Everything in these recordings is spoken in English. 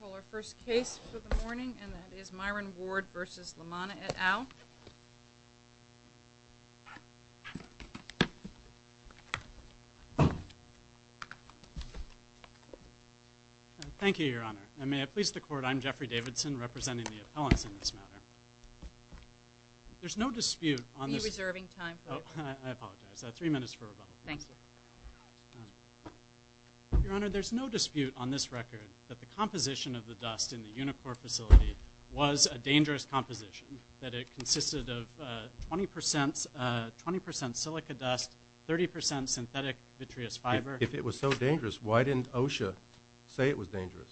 We'll call our first case for the morning and that is Myron Ward vs. Lamanna et al. Thank you, Your Honor. And may it please the Court, I'm Jeffrey Davidson representing the appellants in this matter. There's no dispute on this- Are you reserving time? Oh, I apologize. I have three minutes for rebuttal. Thank you. Your Honor, there's no dispute on this record that the composition of the dust in the Unicor facility was a dangerous composition, that it consisted of 20% silica dust, 30% synthetic vitreous fiber- If it was so dangerous, why didn't OSHA say it was dangerous?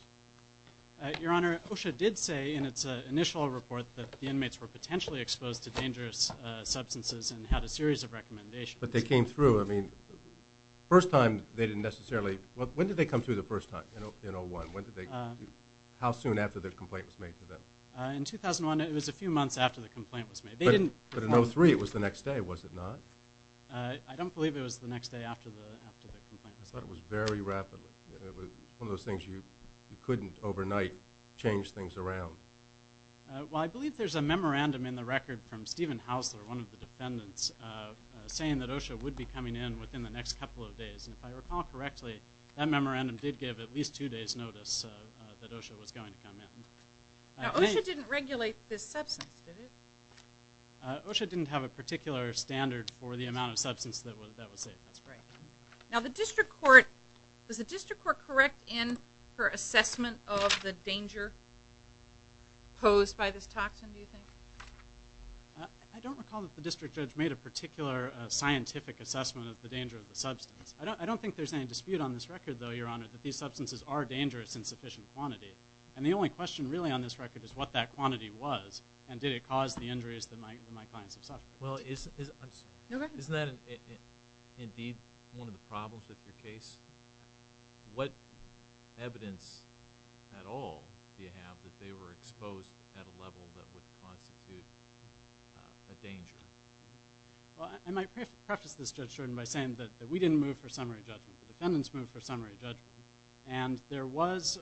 Your Honor, OSHA did say in its initial report that the inmates were potentially exposed to dangerous substances and had a series of recommendations- But they came through, I mean, first time they didn't necessarily- when did they come through the first time, in 01? How soon after the complaint was made to them? In 2001, it was a few months after the complaint was made. They didn't- But in 03, it was the next day, was it not? I don't believe it was the next day after the complaint was made. I thought it was very rapidly, one of those things you couldn't overnight change things around. Well, I believe there's a memorandum in the record from Stephen Hausler, one of the defendants, saying that OSHA would be coming in within the next couple of days. And if I recall correctly, that memorandum did give at least two days' notice that OSHA was going to come in. Now, OSHA didn't regulate this substance, did it? OSHA didn't have a particular standard for the amount of substance that was safe, that's correct. Now, the district court- was the district court correct in her assessment of the danger posed by this toxin, do you think? I don't recall that the district judge made a particular scientific assessment of the danger of the substance. I don't think there's any dispute on this record, though, Your Honor, that these substances are dangerous in sufficient quantity. And the only question, really, on this record is what that quantity was, and did it cause the injuries that my clients have suffered? Well, isn't that indeed one of the problems with your case? What evidence at all do you have that they were exposed at a level that would constitute a danger? Well, I might preface this, Judge Jordan, by saying that we didn't move for summary judgment. The defendants moved for summary judgment, and there was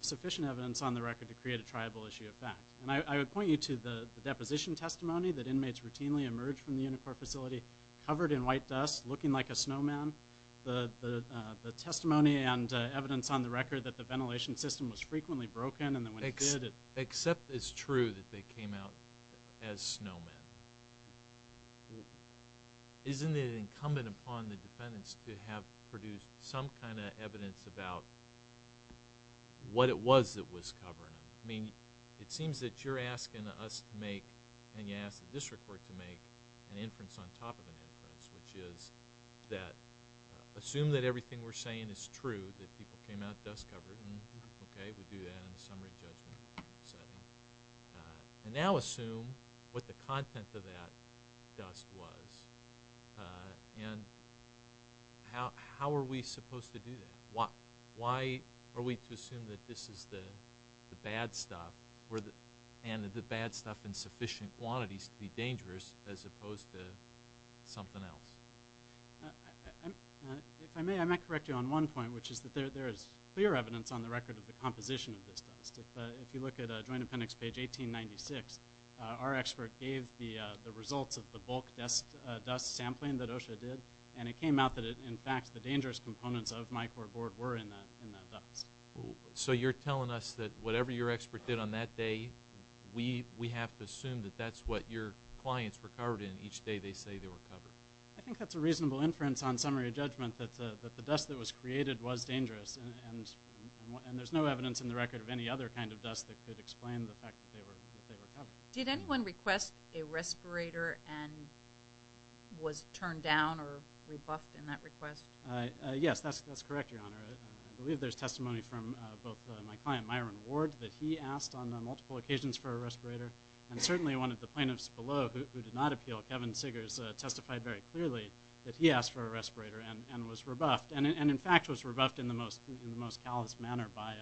sufficient evidence on the record to create a triable issue of fact. And I would point you to the deposition testimony that inmates routinely emerged from the UNICOR facility covered in white dust, looking like a snowman. The testimony and evidence on the record that the ventilation system was frequently broken and that when it did, it… Except it's true that they came out as snowmen. Isn't it incumbent upon the defendants to have produced some kind of evidence about what it was that was covering them? I mean, it seems that you're asking us to make, and you asked the district court to make, an inference on top of an inference, which is that assume that everything we're saying is true, that people came out dust covered, and okay, we do that in a summary judgment setting. And now assume what the content of that dust was, and how are we supposed to do that? Why are we to assume that this is the bad stuff, and the bad stuff in sufficient quantities to be dangerous, as opposed to something else? If I may, I might correct you on one point, which is that there is clear evidence on the record of the composition of this dust. If you look at Joint Appendix page 1896, our expert gave the results of the bulk dust sampling that OSHA did, and it came out that, in fact, the dangerous components of my core board were in that dust. So you're telling us that whatever your expert did on that day, we have to assume that that's what your clients were covered in each day they say they were covered? I think that's a reasonable inference on summary judgment, that the dust that was created was dangerous, and there's no evidence in the record of any other kind of dust that could explain the fact that they were covered. Did anyone request a respirator and was turned down or rebuffed in that request? Yes, that's correct, Your Honor. I believe there's testimony from both my client, Myron Ward, that he asked on multiple occasions for a respirator, and certainly one of the plaintiffs below who did not appeal, Kevin Sigars, testified very clearly that he asked for a respirator and was rebuffed, and in fact was rebuffed in the most callous manner by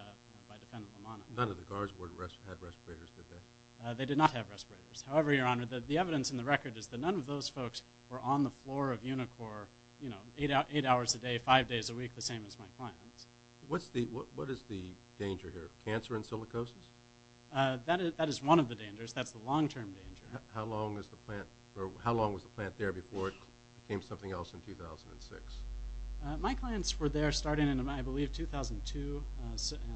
Defendant Lamana. None of the guards had respirators, did they? They did not have respirators. However, Your Honor, the evidence in the record is that none of those folks were on the floor of Unicor eight hours a day, five days a week, the same as my clients. What is the danger here? Cancer and silicosis? That is one of the dangers. That's the long-term danger. How long was the plant there before it became something else in 2006? My clients were there starting in, I believe, 2002.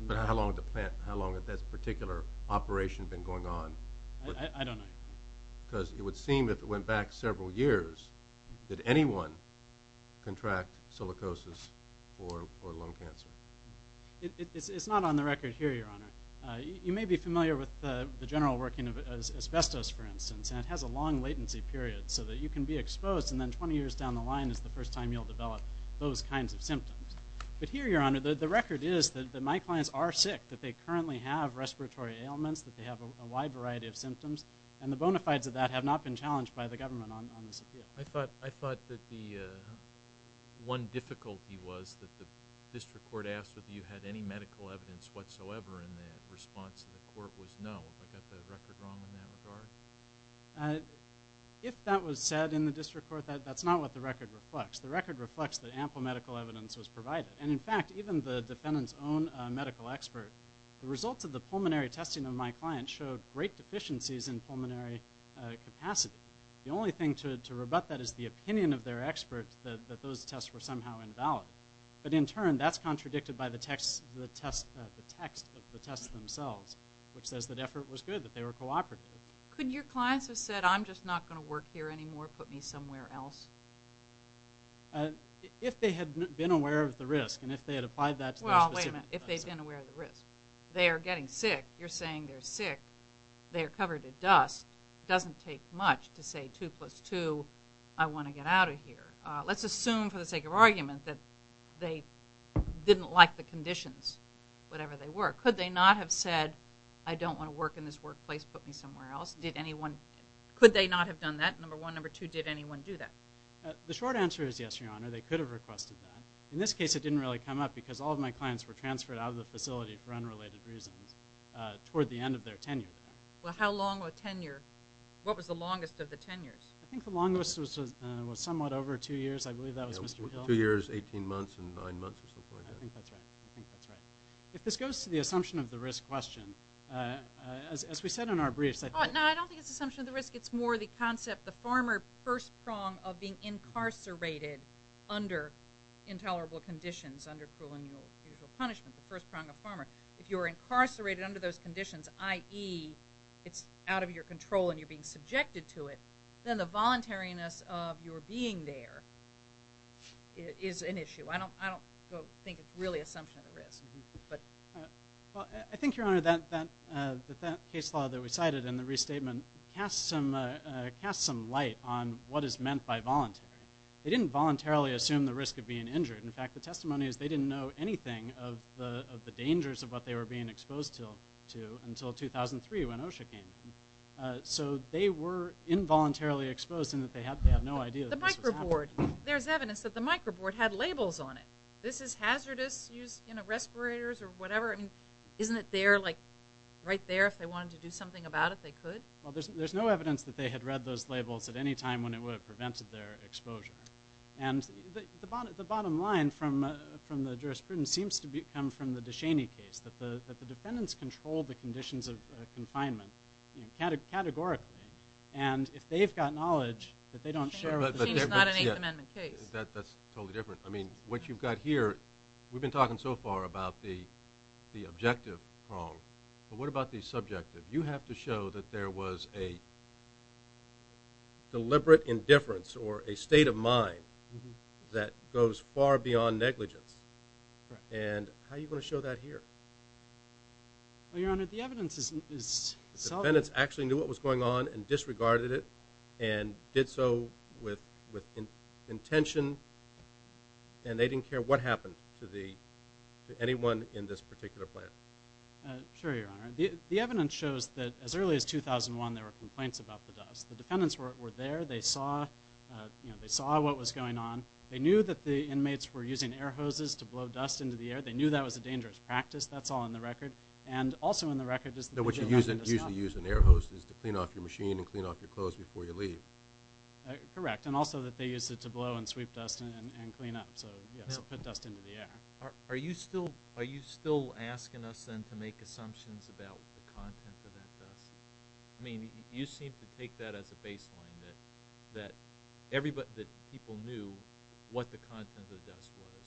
But how long had that particular operation been going on? I don't know, Your Honor. Because it would seem if it went back several years, did anyone contract silicosis or lung cancer? It's not on the record here, Your Honor. You may be familiar with the general working of asbestos, for instance, and it has a long latency period so that you can be exposed and then 20 years down the line is the first time you'll develop those kinds of symptoms. But here, Your Honor, the record is that my clients are sick, that they currently have respiratory ailments, that they have a wide variety of symptoms, and the bona fides of that have not been challenged by the government on this appeal. I thought that the one difficulty was that the district court asked whether you had any evidence and the court was no. Have I got the record wrong in that regard? If that was said in the district court, that's not what the record reflects. The record reflects that ample medical evidence was provided. And in fact, even the defendant's own medical expert, the results of the pulmonary testing of my client showed great deficiencies in pulmonary capacity. The only thing to rebut that is the opinion of their expert that those tests were somehow invalid. But in turn, that's contradicted by the text of the tests themselves, which says that effort was good, that they were cooperative. Could your clients have said, I'm just not going to work here anymore, put me somewhere else? If they had been aware of the risk, and if they had applied that to their specific Well, wait a minute. If they'd been aware of the risk. They are getting sick. You're saying they're sick. They are covered in dust. It doesn't take much to say two plus two, I want to get out of here. Let's assume for the sake of argument that they didn't like the conditions, whatever they were. Could they not have said, I don't want to work in this workplace, put me somewhere else? Could they not have done that? Number one. Number two, did anyone do that? The short answer is yes, Your Honor. They could have requested that. In this case, it didn't really come up because all of my clients were transferred out of the facility for unrelated reasons toward the end of their tenure. Well, how long were tenure? What was the longest of the tenures? I think the longest was somewhat over two years. I believe that was Mr. Hill. Two years, 18 months, and nine months or something like that. I think that's right. I think that's right. If this goes to the assumption of the risk question, as we said in our briefs, I think No, I don't think it's assumption of the risk. It's more the concept, the farmer first prong of being incarcerated under intolerable conditions, under cruel and unusual punishment, the first prong of farmer. If you are incarcerated under those conditions, i.e., it's out of your control and you're being subjected to it, then the voluntariness of your being there is an issue. I don't think it's really assumption of the risk. I think, Your Honor, that case law that we cited in the restatement casts some light on what is meant by voluntary. They didn't voluntarily assume the risk of being injured. In fact, the testimony is they didn't know anything of the dangers of what they were being exposed to until 2003 when OSHA came in. So they were involuntarily exposed in that they had no idea that this was happening. There's evidence that the microboard had labels on it. This is hazardous. Use respirators or whatever. Isn't it there, like right there, if they wanted to do something about it, they could? Well, there's no evidence that they had read those labels at any time when it would have prevented their exposure. And the bottom line from the jurisprudence seems to come from the DeShaney case, that the defendants controlled the conditions of confinement categorically. And if they've got knowledge, that they don't share with the defendants. But that's not an Eighth Amendment case. That's totally different. I mean, what you've got here, we've been talking so far about the objective prong. But what about the subjective? You have to show that there was a deliberate indifference or a state of mind that goes far beyond negligence. And how are you going to show that here? Well, Your Honor, the evidence is solid. The defendants actually knew what was going on and disregarded it and did so with intention and they didn't care what happened to anyone in this particular plant. Sure, Your Honor. The evidence shows that as early as 2001, there were complaints about the dust. The defendants were there. They saw what was going on. They knew that the inmates were using air hoses to blow dust into the air. They knew that was a dangerous practice. That's all in the record. And also in the record is that what you're using, usually use an air hose is to clean off your machine and clean off your clothes before you leave. Correct. And also that they use it to blow and sweep dust and clean up. So yes, put dust into the air. Are you still asking us then to make assumptions about the content of that dust? I mean, you seem to take that as a baseline that people knew what the content of the dust was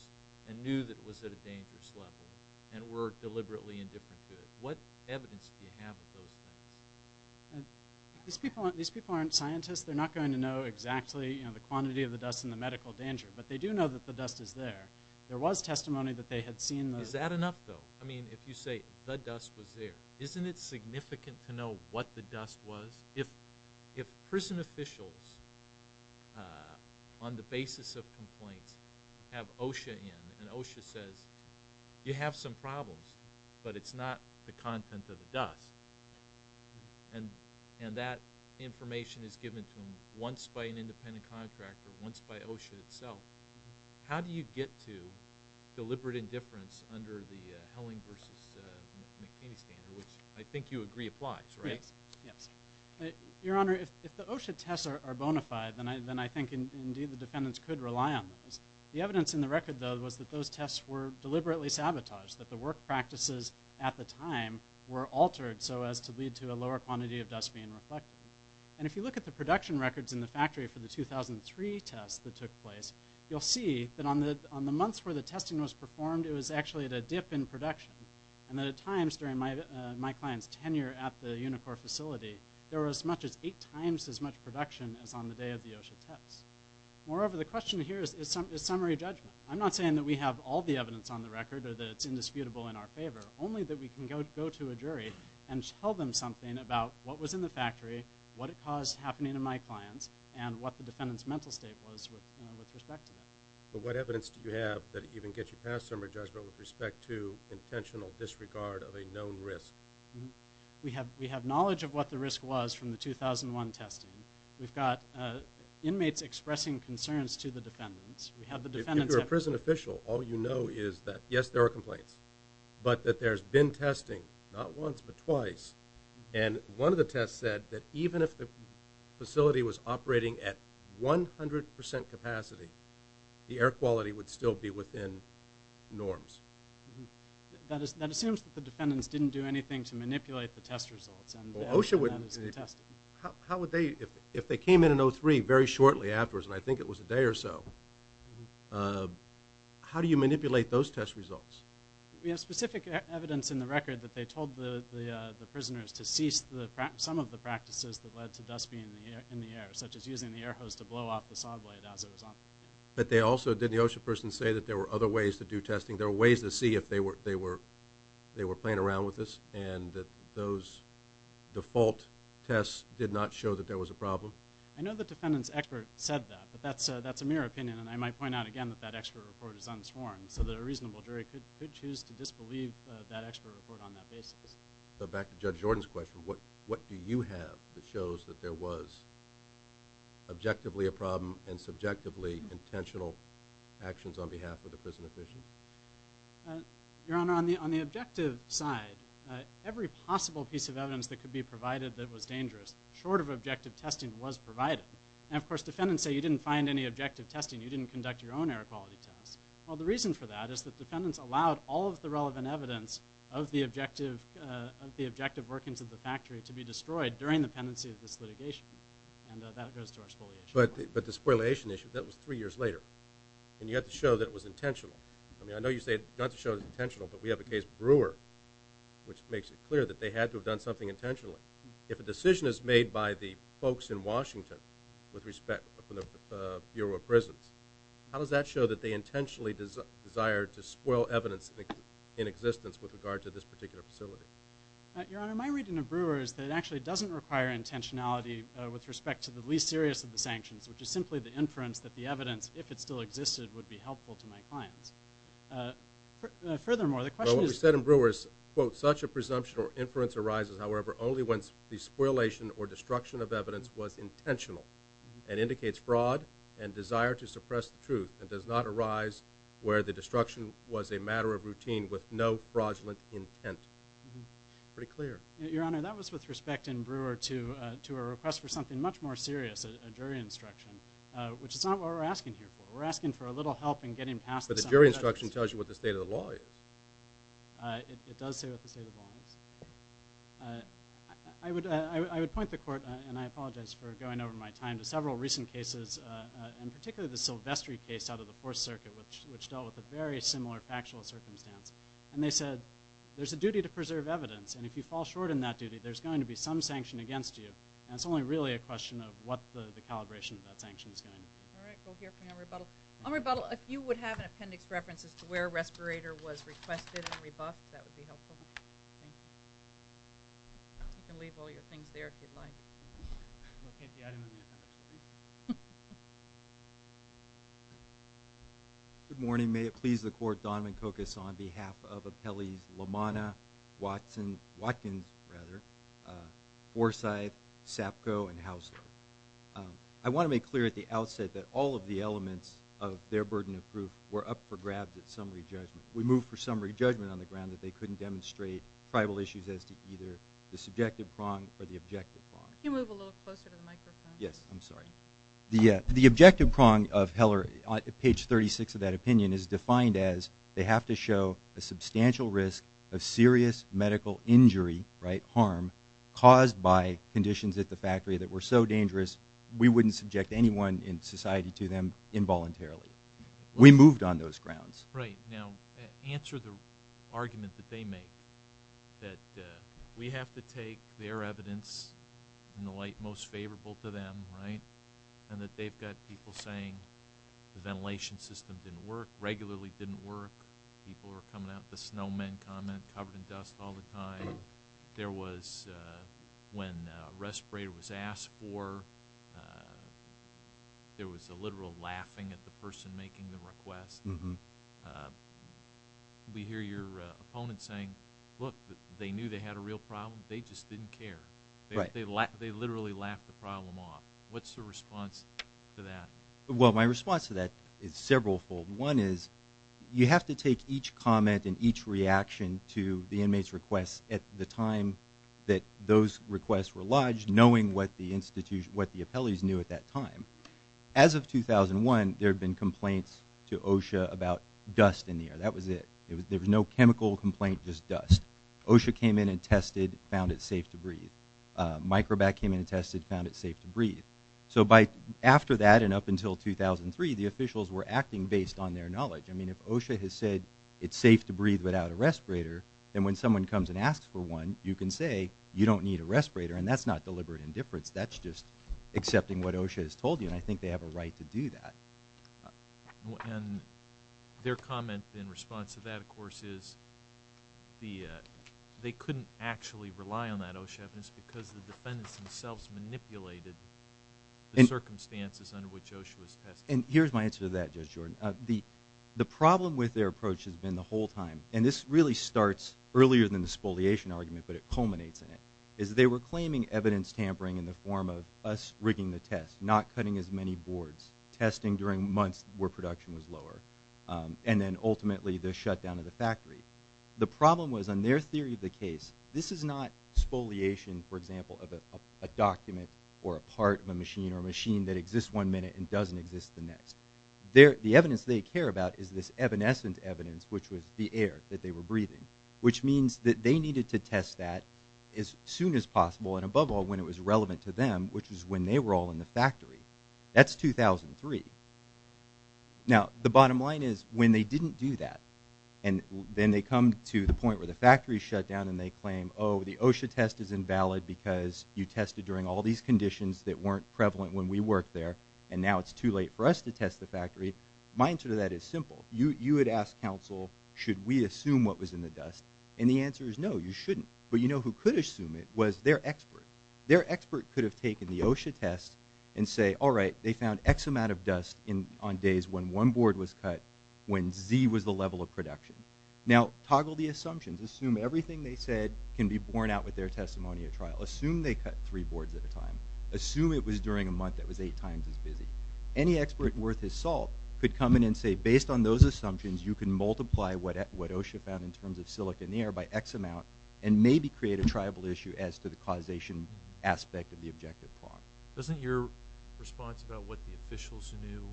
and knew that it was at a dangerous level and were deliberately indifferent to it. What evidence do you have of those things? These people aren't scientists. They're not going to know exactly the quantity of the dust and the medical danger. But they do know that the dust is there. There was testimony that they had seen the- Is that enough though? I mean, if you say the dust was there, isn't it significant to know what the dust was? If prison officials on the basis of complaints have OSHA in and OSHA says, you have some problems, but it's not the content of the dust. And that information is given to them once by an independent contractor, once by OSHA itself. How do you get to deliberate indifference under the Helling versus McKinney standard, which I think you agree applies, right? Yes. Your Honor, if the OSHA tests are bona fide, then I think indeed the defendants could rely on those. The evidence in the record though was that those tests were deliberately sabotaged, that the work practices at the time were altered so as to lead to a lower quantity of dust being reflected. And if you look at the production records in the factory for the 2003 test that took place, you'll see that on the months where the testing was performed, it was actually at a dip in production. And at times during my client's tenure at the Unicor facility, there was as much as eight times as much production as on the day of the OSHA test. Moreover, the question here is summary judgment. I'm not saying that we have all the evidence on the record or that it's indisputable in our favor, only that we can go to a jury and tell them something about what was in the factory, what it caused happening to my clients, and what the defendant's mental state was with respect to that. But what evidence do you have that even gets you past summary judgment with respect to intentional disregard of a known risk? We have knowledge of what the risk was from the 2001 testing. We've got inmates expressing concerns to the defendants. If you're a prison official, all you know is that, yes, there are complaints, but that there's been testing, not once, but twice. And one of the tests said that even if the facility was operating at 100% capacity, the air quality would still be within norms. That assumes that the defendants didn't do anything to manipulate the test results. Well, OSHA would... How would they, if they came in in 03 very shortly afterwards, and I think it was a day or so, how do you manipulate those test results? We have specific evidence in the record that they told the prisoners to cease some of the practices that led to dust being in the air, such as using the air hose to blow off the saw blade as it was on. But they also, did the OSHA person say that there were other ways to do testing? There were ways to see if they were playing around with this, and that those default tests did not show that there was a problem? I know the defendant's expert said that, but that's a mere opinion, and I might point out again that that expert report is unsworn, so that a reasonable jury could choose to disbelieve that expert report on that basis. So back to Judge Jordan's question, what do you have that shows that there was objectively a problem and subjectively intentional actions on behalf of the prison officials? Your Honor, on the objective side, every possible piece of evidence that could be provided that was dangerous, short of objective testing, was provided. And of course, defendants say you didn't find any objective testing, you didn't conduct your own air quality tests. Well, the reason for that is that defendants allowed all of the relevant evidence of the objective workings of the factory to be destroyed during the pendency of this litigation, and that goes to our spoliation. But the spoliation issue, that was three years later, and you have to show that it was intentional. I mean, I know you say not to show it was intentional, but we have a case Brewer, which makes it clear that they had to have done something intentionally. If a decision is made by the folks in Washington with respect to the Bureau of Prisons, how does that show that they intentionally desired to spoil evidence in existence with regard to this particular facility? Your Honor, my reading of Brewer is that it actually doesn't require intentionality with respect to the least serious of the sanctions, which is simply the inference that the evidence, if it still existed, would be helpful to my clients. Furthermore, the question is... Well, what we said in Brewer is, quote, such a presumption or inference arises, however, only when the spoliation or destruction of evidence was intentional and indicates fraud and desire to suppress the truth, and does not arise where the destruction was a matter of routine with no fraudulent intent. Pretty clear. Your Honor, that was with respect in Brewer to a request for something much more serious, a jury instruction, which is not what we're asking here for. We're asking for a little help in getting past... But the jury instruction tells you what the state of the law is. It does say what the state of the law is. I would point the Court, and I apologize for going over my time, to several recent cases, and particularly the Silvestri case out of the Fourth Circuit, which dealt with a very similar factual circumstance. And they said, there's a duty to preserve evidence, and if you fall short in that duty, there's going to be some sanction against you. And it's only really a question of what the calibration of that sanction is going to be. All right, we'll hear from you on rebuttal. On rebuttal, if you would have an appendix reference as to where a respirator was requested and rebuffed, that would be helpful. Thank you. You can leave all your things there if you'd like. Good morning. May it please the Court, Donovan Kokos on behalf of Appellees LaManna, Watson, Watkins, rather, Forsyth, Sapko, and Hausdorff. I want to make clear at the outset that all of the elements of their burden of proof were up for grabs at summary judgment. We moved for summary judgment on the ground that they couldn't demonstrate tribal issues as to either the subjective prong or the objective prong. Can you move a little closer to the microphone? Yes, I'm sorry. The objective prong of Heller, page 36 of that opinion, is defined as, they have to show a substantial risk of serious medical injury, right, harm, caused by conditions at the factory that were so dangerous we wouldn't subject anyone in society to them involuntarily. We moved on those grounds. Right. Now, answer the argument that they make, that we have to take their evidence in the light most favorable to them, right, and that they've got people saying the ventilation system didn't work, regularly didn't work, people were coming out the snowmen comment, covered in dust all the time. There was, when a respirator was asked for, there was a literal laughing at the person making the request. We hear your opponent saying, look, they knew they had a real problem. They just didn't care. Right. They literally laughed the problem off. What's the response to that? Well, my response to that is several fold. One is, you have to take each comment and each reaction to the inmate's request at the time that those requests were lodged, knowing what the institution, what the appellees knew at that time. As of 2001, there had been complaints to OSHA about dust in the air. That was it. There was no chemical complaint, just dust. OSHA came in and tested, found it safe to breathe. Microbac came in and tested, found it safe to breathe. So by after that, and up until 2003, the officials were acting based on their knowledge. I mean, if OSHA has said it's safe to breathe without a respirator, then when someone comes and asks for one, you can say you don't need a respirator. And that's not deliberate indifference. That's just accepting what OSHA has told you. And I think they have a right to do that. And their comment in response to that, of course, is they couldn't actually rely on that OSHA evidence because the defendants themselves manipulated the circumstances under which OSHA was tested. And here's my answer to that, Judge Jordan. The problem with their approach has been the whole time, and this really starts earlier than the spoliation argument, but it culminates in it, is they were claiming evidence tampering in the form of us rigging the test, not cutting as many boards, testing during months where production was lower, and then ultimately the shutdown of the factory. The problem was on their theory of the case, this is not spoliation, for example, of a document or a part of a machine or a machine that exists one minute and doesn't exist the next. The evidence they care about is this evanescent evidence, which was the air that they were breathing, which means that they needed to test that as soon as possible, and above all, when it was relevant to them, which was when they were all in the factory. That's 2003. Now, the bottom line is when they didn't do that, and then they come to the point where the factory shut down and they claim, oh, the OSHA test is invalid because you tested during all these conditions that weren't prevalent when we worked there, and now it's too late for us to test the factory. My answer to that is simple. You would ask counsel, should we assume what was in the dust? And the answer is no, you shouldn't. But you know who could assume it was their expert. Their expert could have taken the OSHA test and say, all right, they found X amount of dust on days when one board was cut when Z was the level of production. Now, toggle the assumptions. Assume everything they said can be borne out with their testimony at trial. Assume they cut three boards at a time. Assume it was during a month that was eight times as busy. Any expert worth his salt could come in and say, based on those assumptions, you can multiply what OSHA found in terms of silicon air by X amount and maybe create a triable issue as to the causation aspect of the objective plot. Doesn't your response about what the officials knew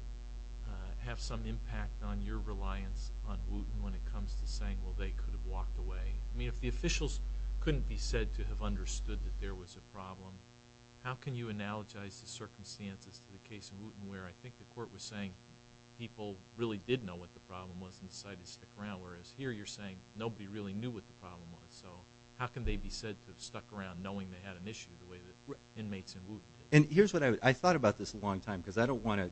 have some impact on your reliance on Wooten when it comes to saying, well, they could have walked away? I mean, if the officials couldn't be said to have understood that there was a problem, how can you analogize the circumstances to the case in Wooten where I think the court was saying people really did know what the problem was and decided to stick around, whereas here you're saying nobody really knew what the problem was. So how can they be said to have stuck around knowing they had an issue the way that here's what I thought about this a long time because I don't want to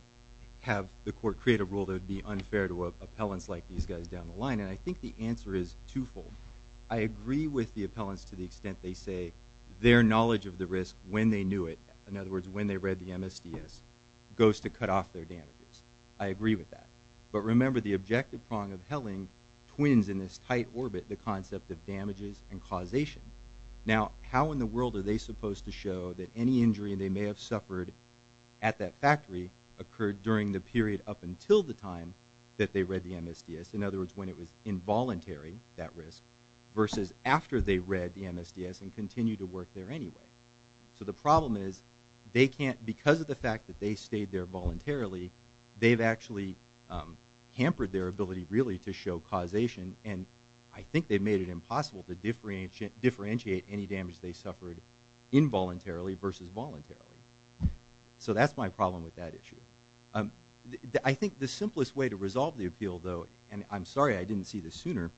have the court create a rule that would be unfair to appellants like these guys down the line. And I think the answer is twofold. I agree with the appellants to the extent they say their knowledge of the risk when they knew it, in other words, when they read the MSDS, goes to cut off their damages. I agree with that. But remember, the objective prong of Helling twins in this tight orbit the concept of damages and causation. Now, how in the world are they supposed to show that any injury they may have suffered at that factory occurred during the period up until the time that they read the MSDS? In other words, when it was involuntary, that risk versus after they read the MSDS and continue to work there anyway. So the problem is they can't because of the fact that they stayed there voluntarily, they've actually hampered their ability really to show causation. And I think they've made it impossible to differentiate any damage they suffered involuntarily versus voluntarily. So that's my problem with that issue. I think the simplest way to resolve the appeal though, and I'm sorry I didn't see this sooner,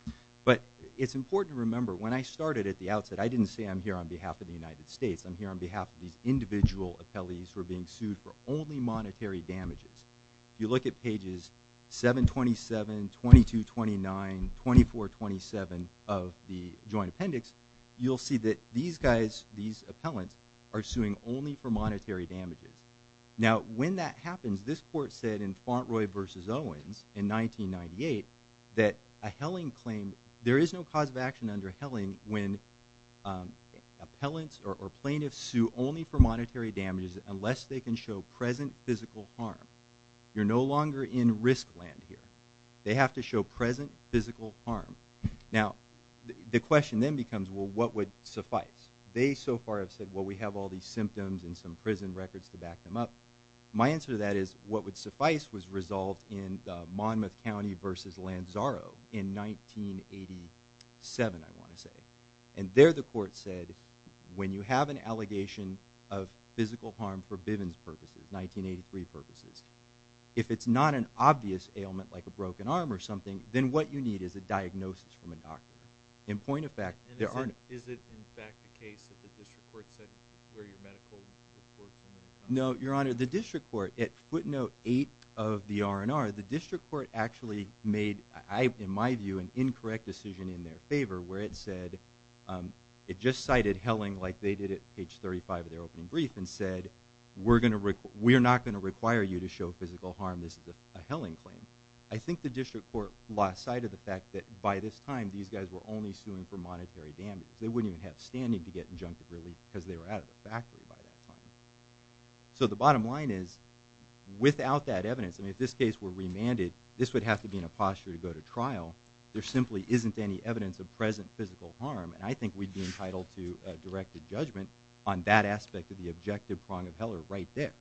but it's important to remember when I started at the outset, I didn't say I'm here on behalf of the United States. I'm here on behalf of these individual appellees who are being sued for only monetary damages. If you look at pages 727, 2229, 2427 of the Joint Appendix, you'll see that these guys, these appellants are suing only for monetary damages. Now, when that happens, this court said in Fauntroy versus Owens in 1998, that a helling claim, there is no cause of action under helling when appellants or plaintiffs sue only for monetary damages unless they can show present physical harm. You're no longer in risk land here. They have to show present physical harm. Now, the question then becomes, well, what would suffice? They so far have said, well, we have all these symptoms and some prison records to back them up. My answer to that is what would suffice was resolved in Monmouth County versus Lanzaro in 1987, I want to say. And there the court said, when you have an allegation of physical harm for Bivens purposes, 1983 purposes, if it's not an obvious ailment like a broken arm or something, then what you need is a diagnosis from a doctor. In point of fact, there aren't. Is it in fact the case that the district court said where your medical report? No, Your Honor, the district court at footnote eight of the R&R, the district court actually made, in my view, an incorrect decision in their favor where it said, it just cited helling like they did at page 35 of their opening brief and said, we're not going to require you to show physical harm. This is a helling claim. I think the district court lost sight of the fact that by this time, these guys were only suing for monetary damage. They wouldn't even have standing to get injunctive relief because they were out of the factory by that time. So the bottom line is without that evidence, I mean, if this case were remanded, this would have to be in a posture to go to trial. There simply isn't any evidence of physical harm. And I think we'd be entitled to a directed judgment on that aspect of the objective prong of Heller right there.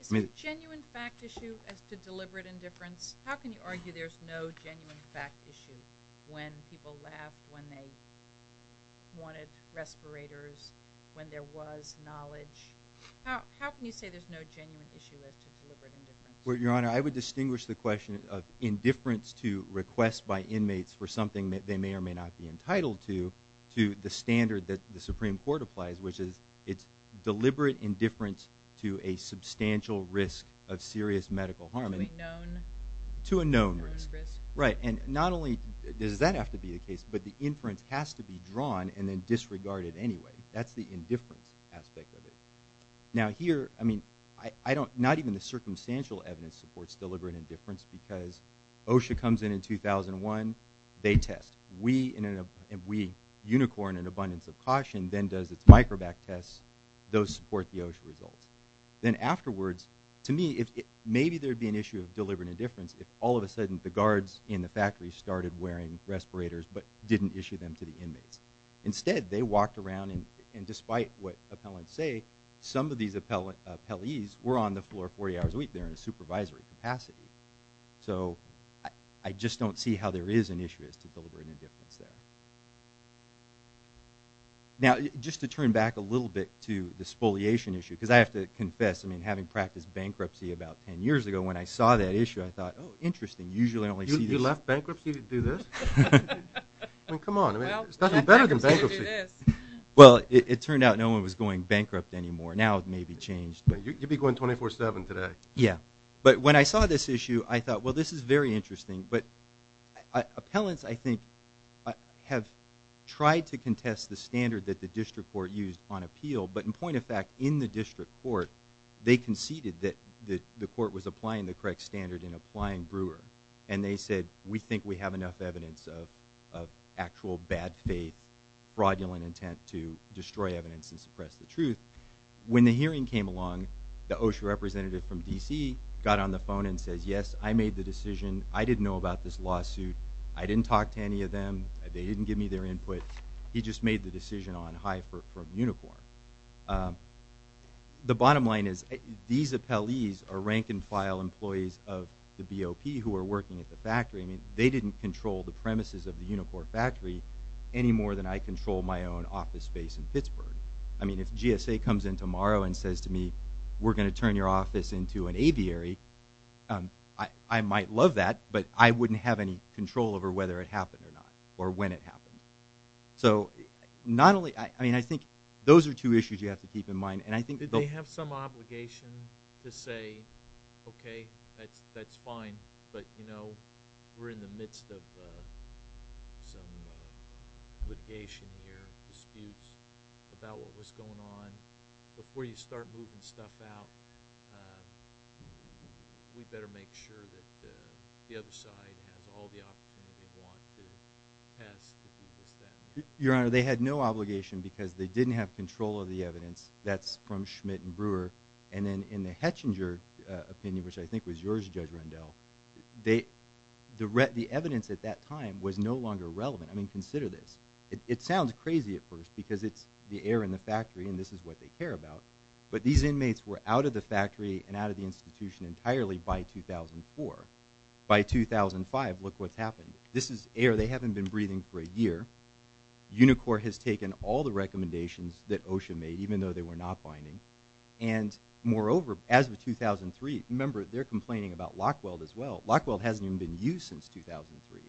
Is it a genuine fact issue as to deliberate indifference? How can you argue there's no genuine fact issue when people laugh, when they wanted respirators, when there was knowledge? How can you say there's no genuine issue as to deliberate indifference? Your Honor, I would distinguish the question of indifference to request by inmates for something that they may or may not be entitled to, to the standard that the Supreme Court applies, which is it's deliberate indifference to a substantial risk of serious medical harm. To a known risk. Right. And not only does that have to be the case, but the inference has to be drawn and then disregarded anyway. That's the indifference aspect of it. Now here, I mean, I don't, not even the circumstantial evidence supports deliberate indifference because OSHA comes in in 2001, they test. We, Unicorn and Abundance of Caution, then does its Microbac tests. Those support the OSHA results. Then afterwards, to me, maybe there'd be an issue of deliberate indifference if all of a sudden the guards in the factory started wearing respirators but didn't issue them to the inmates. Instead, they walked around and despite what appellants say, some of these appellees were on the floor 40 hours a week there in a supervisory capacity. So I just don't see how there is an issue as to deliberate indifference there. Now, just to turn back a little bit to the spoliation issue, because I have to confess, I mean, having practiced bankruptcy about 10 years ago, when I saw that issue, I thought, oh, interesting. Usually I only see these. You left bankruptcy to do this? I mean, come on. I mean, it's nothing better than bankruptcy. Well, it turned out no one was going bankrupt anymore. Now it may be changed. You'd be going 24-7 today. Yeah. But when I saw this issue, I thought, well, this is very interesting. But appellants, I think, have tried to contest the standard that the district court used on appeal. But in point of fact, in the district court, they conceded that the court was applying the correct standard in applying Brewer. And they said, we think we have enough evidence of actual bad faith, fraudulent intent to The OSHA representative from D.C. got on the phone and says, yes, I made the decision. I didn't know about this lawsuit. I didn't talk to any of them. They didn't give me their input. He just made the decision on HIFR from Unicor. The bottom line is these appellees are rank and file employees of the BOP who are working at the factory. I mean, they didn't control the premises of the Unicor factory any more than I control my own office space in Pittsburgh. I mean, if GSA comes in tomorrow and says to me, we're going to turn your office into an aviary, I might love that. But I wouldn't have any control over whether it happened or not or when it happened. So not only I mean, I think those are two issues you have to keep in mind. And I think that they have some obligation to say, OK, that's fine. But, you know, we're in the midst of some litigation here, disputes about what was going on before you start moving stuff out. We better make sure that the other side has all the opportunity they want to pass. Your Honor, they had no obligation because they didn't have control of the evidence. That's from Schmidt and Brewer. And then in the Hettinger opinion, which I think was yours, Judge Rendell, the evidence at that time was no longer relevant. I mean, consider this. It sounds crazy at first because it's the air in the factory and this is what they care about. But these inmates were out of the factory and out of the institution entirely by 2004. By 2005, look what's happened. This is air they haven't been breathing for a year. Unicor has taken all the recommendations that OSHA made, even though they were not binding. And moreover, as of 2003, remember, they're complaining about Lockweld as well. Lockweld hasn't even been used since 2003.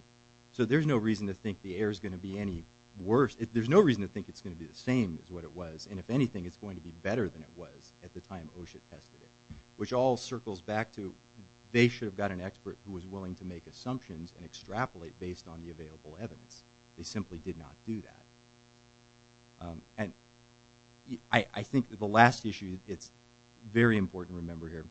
So there's no reason to think the air is going to be any worse. There's no reason to think it's going to be the same as what it was. And if anything, it's going to be better than it was at the time OSHA tested it, which all circles back to they should have got an expert who was willing to make assumptions and extrapolate based on the available evidence. They simply did not do that. And I think the last issue, it's very important to remember here,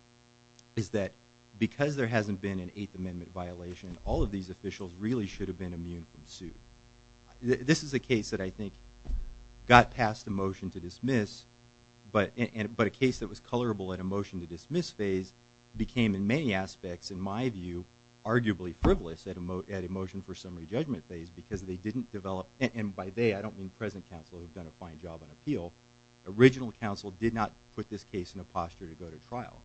is that because there hasn't been an Eighth Amendment violation, all of these officials really should have been immune from suit. This is a case that I think got past the motion to dismiss, but a case that was colorable at a motion to dismiss phase became in many aspects, in my view, arguably frivolous at a motion for summary judgment phase because they didn't develop, and by they, I don't mean present counsel who have done a fine job on appeal, original counsel did not put this case in a posture to go to trial.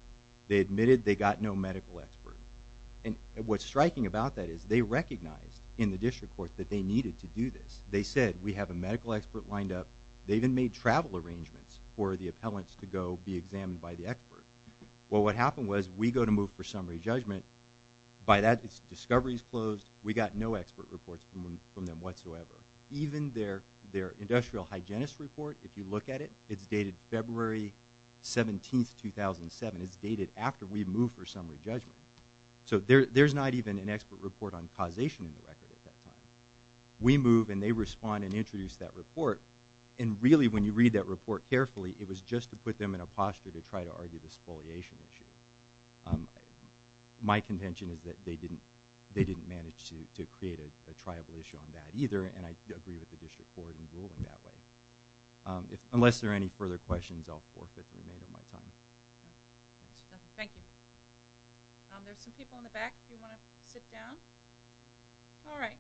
They admitted they got no medical expert. And what's striking about that is they recognized in the district court that they needed to do this. They said, we have a medical expert lined up. They even made travel arrangements for the appellants to go be examined by the expert. Well, what happened was we go to move for summary judgment. By that, discovery's closed. We got no expert reports from them whatsoever. Even their industrial hygienist report, if you look at it, it's dated February 17, 2007. It's dated after we moved for summary judgment. So there's not even an expert report on causation in the record at that time. We move and they respond and introduce that report. And really, when you read that report carefully, it was just to put them in a posture to try to argue this foliation issue. My contention is that they didn't manage to create a tribal issue on that either, and I agree with the district court in ruling that way. Unless there are any further questions, I'll forfeit the remainder of my time. Thank you. There's some people in the back if you want to sit down. All right.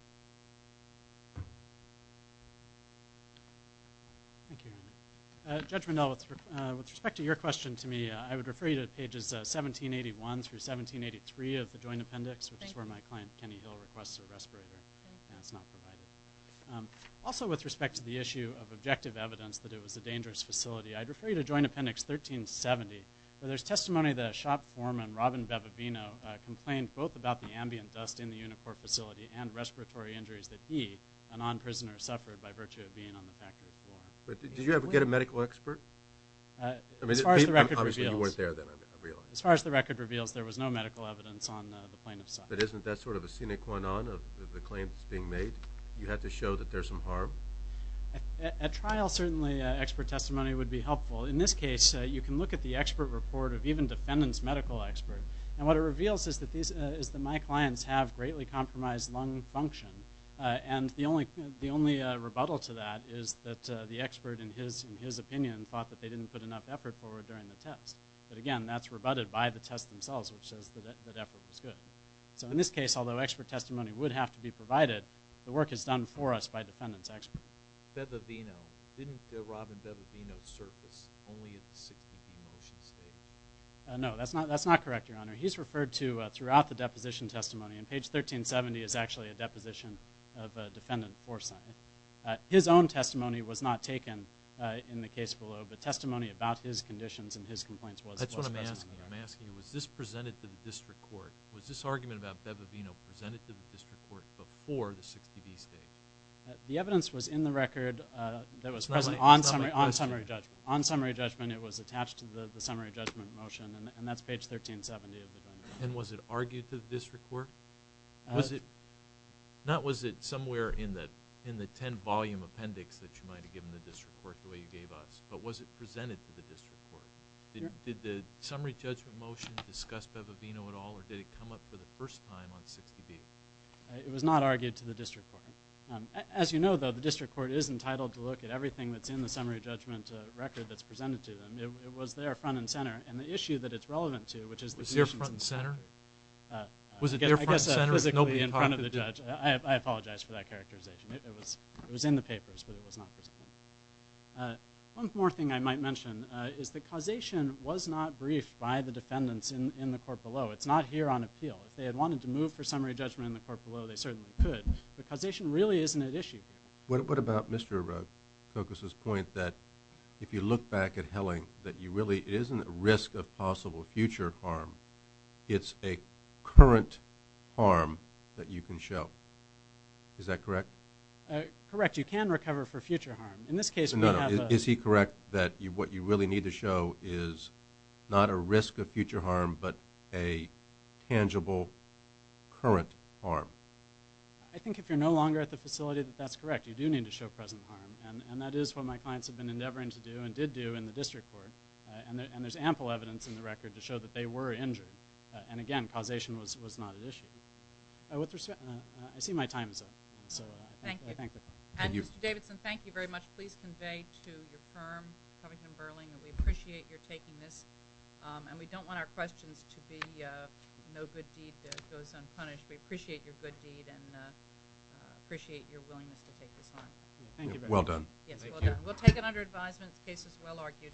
Thank you. Judge Mandel, with respect to your question to me, I would refer you to pages 1781 through 1783 of the Joint Appendix, which is where my client Kenny Hill requests a respirator, and it's not provided. Also, with respect to the issue of objective evidence that it was a dangerous facility, I'd refer you to Joint Appendix 1370, where there's testimony that a shop foreman, Robin Bevavino, complained both about the ambient dust in the Unicorp facility and respiratory injuries that he, a non-prisoner, suffered by virtue of being on the factory floor. But did you ever get a medical expert? I mean, obviously you weren't there then, I realize. As far as the record reveals, there was no medical evidence on the plaintiff's side. But isn't that sort of a sine qua non of the claims being made? You had to show that there's some harm? At trial, certainly expert testimony would be helpful. In this case, you can look at the expert report of even defendant's medical expert, and what it reveals is that my clients have greatly compromised lung function, and the only rebuttal to that is that the expert, in his opinion, thought that they didn't put enough effort forward during the test. But again, that's rebutted by the test themselves, which says that effort was good. So in this case, although expert testimony would have to be provided, the work is done for us by defendant's expert. Bevavino, didn't Robin Bevavino surface only at the 16th motion stage? No, that's not correct, Your Honor. He's referred to throughout the deposition testimony and page 1370 is actually a deposition of defendant foresight. His own testimony was not taken in the case below, but testimony about his conditions and his complaints was. That's what I'm asking. I'm asking, was this presented to the district court? Was this argument about Bevavino presented to the district court before the 16th stage? The evidence was in the record that was present on summary judgment. On summary judgment, it was attached to the summary judgment motion, and that's page 1370 of the document. And was it argued to the district court? Not was it somewhere in the 10 volume appendix that you might have given the district court the way you gave us, but was it presented to the district court? Did the summary judgment motion discuss Bevavino at all, or did it come up for the first time on 16th? It was not argued to the district court. As you know, though, the district court is entitled to look at everything that's in the summary judgment record that's presented to them. It was there front and center, and the issue that it's relevant to, which is the conditions. Was it there front and center? Was it there front and center if nobody talked to the judge? I apologize for that characterization. It was in the papers, but it was not presented. One more thing I might mention is the causation was not briefed by the defendants in the court below. It's not here on appeal. If they had wanted to move for summary judgment in the court below, they certainly could, but causation really isn't at issue here. What about Mr. Kokos's point that if you look back at Helling, that it isn't a risk of possible future harm, it's a current harm that you can show. Is that correct? Correct. You can recover for future harm. In this case, we have a- Is he correct that what you really need to show is not a risk of future harm, but a tangible current harm? I think if you're no longer at the facility, that that's correct. You do need to show present harm, and that is what my clients have been endeavoring to do and did do in the district court, and there's ample evidence in the record to show that they were injured. Again, causation was not at issue. I see my time is up, so I thank the court. Mr. Davidson, thank you very much. Please convey to your firm, Covington & Burling, that we appreciate your taking this, and we don't want our questions to be no good deed goes unpunished. We appreciate your good deed and appreciate your willingness to take this on. Thank you very much. Well done. Yes, well done. We'll take it under advisement. The case is well argued.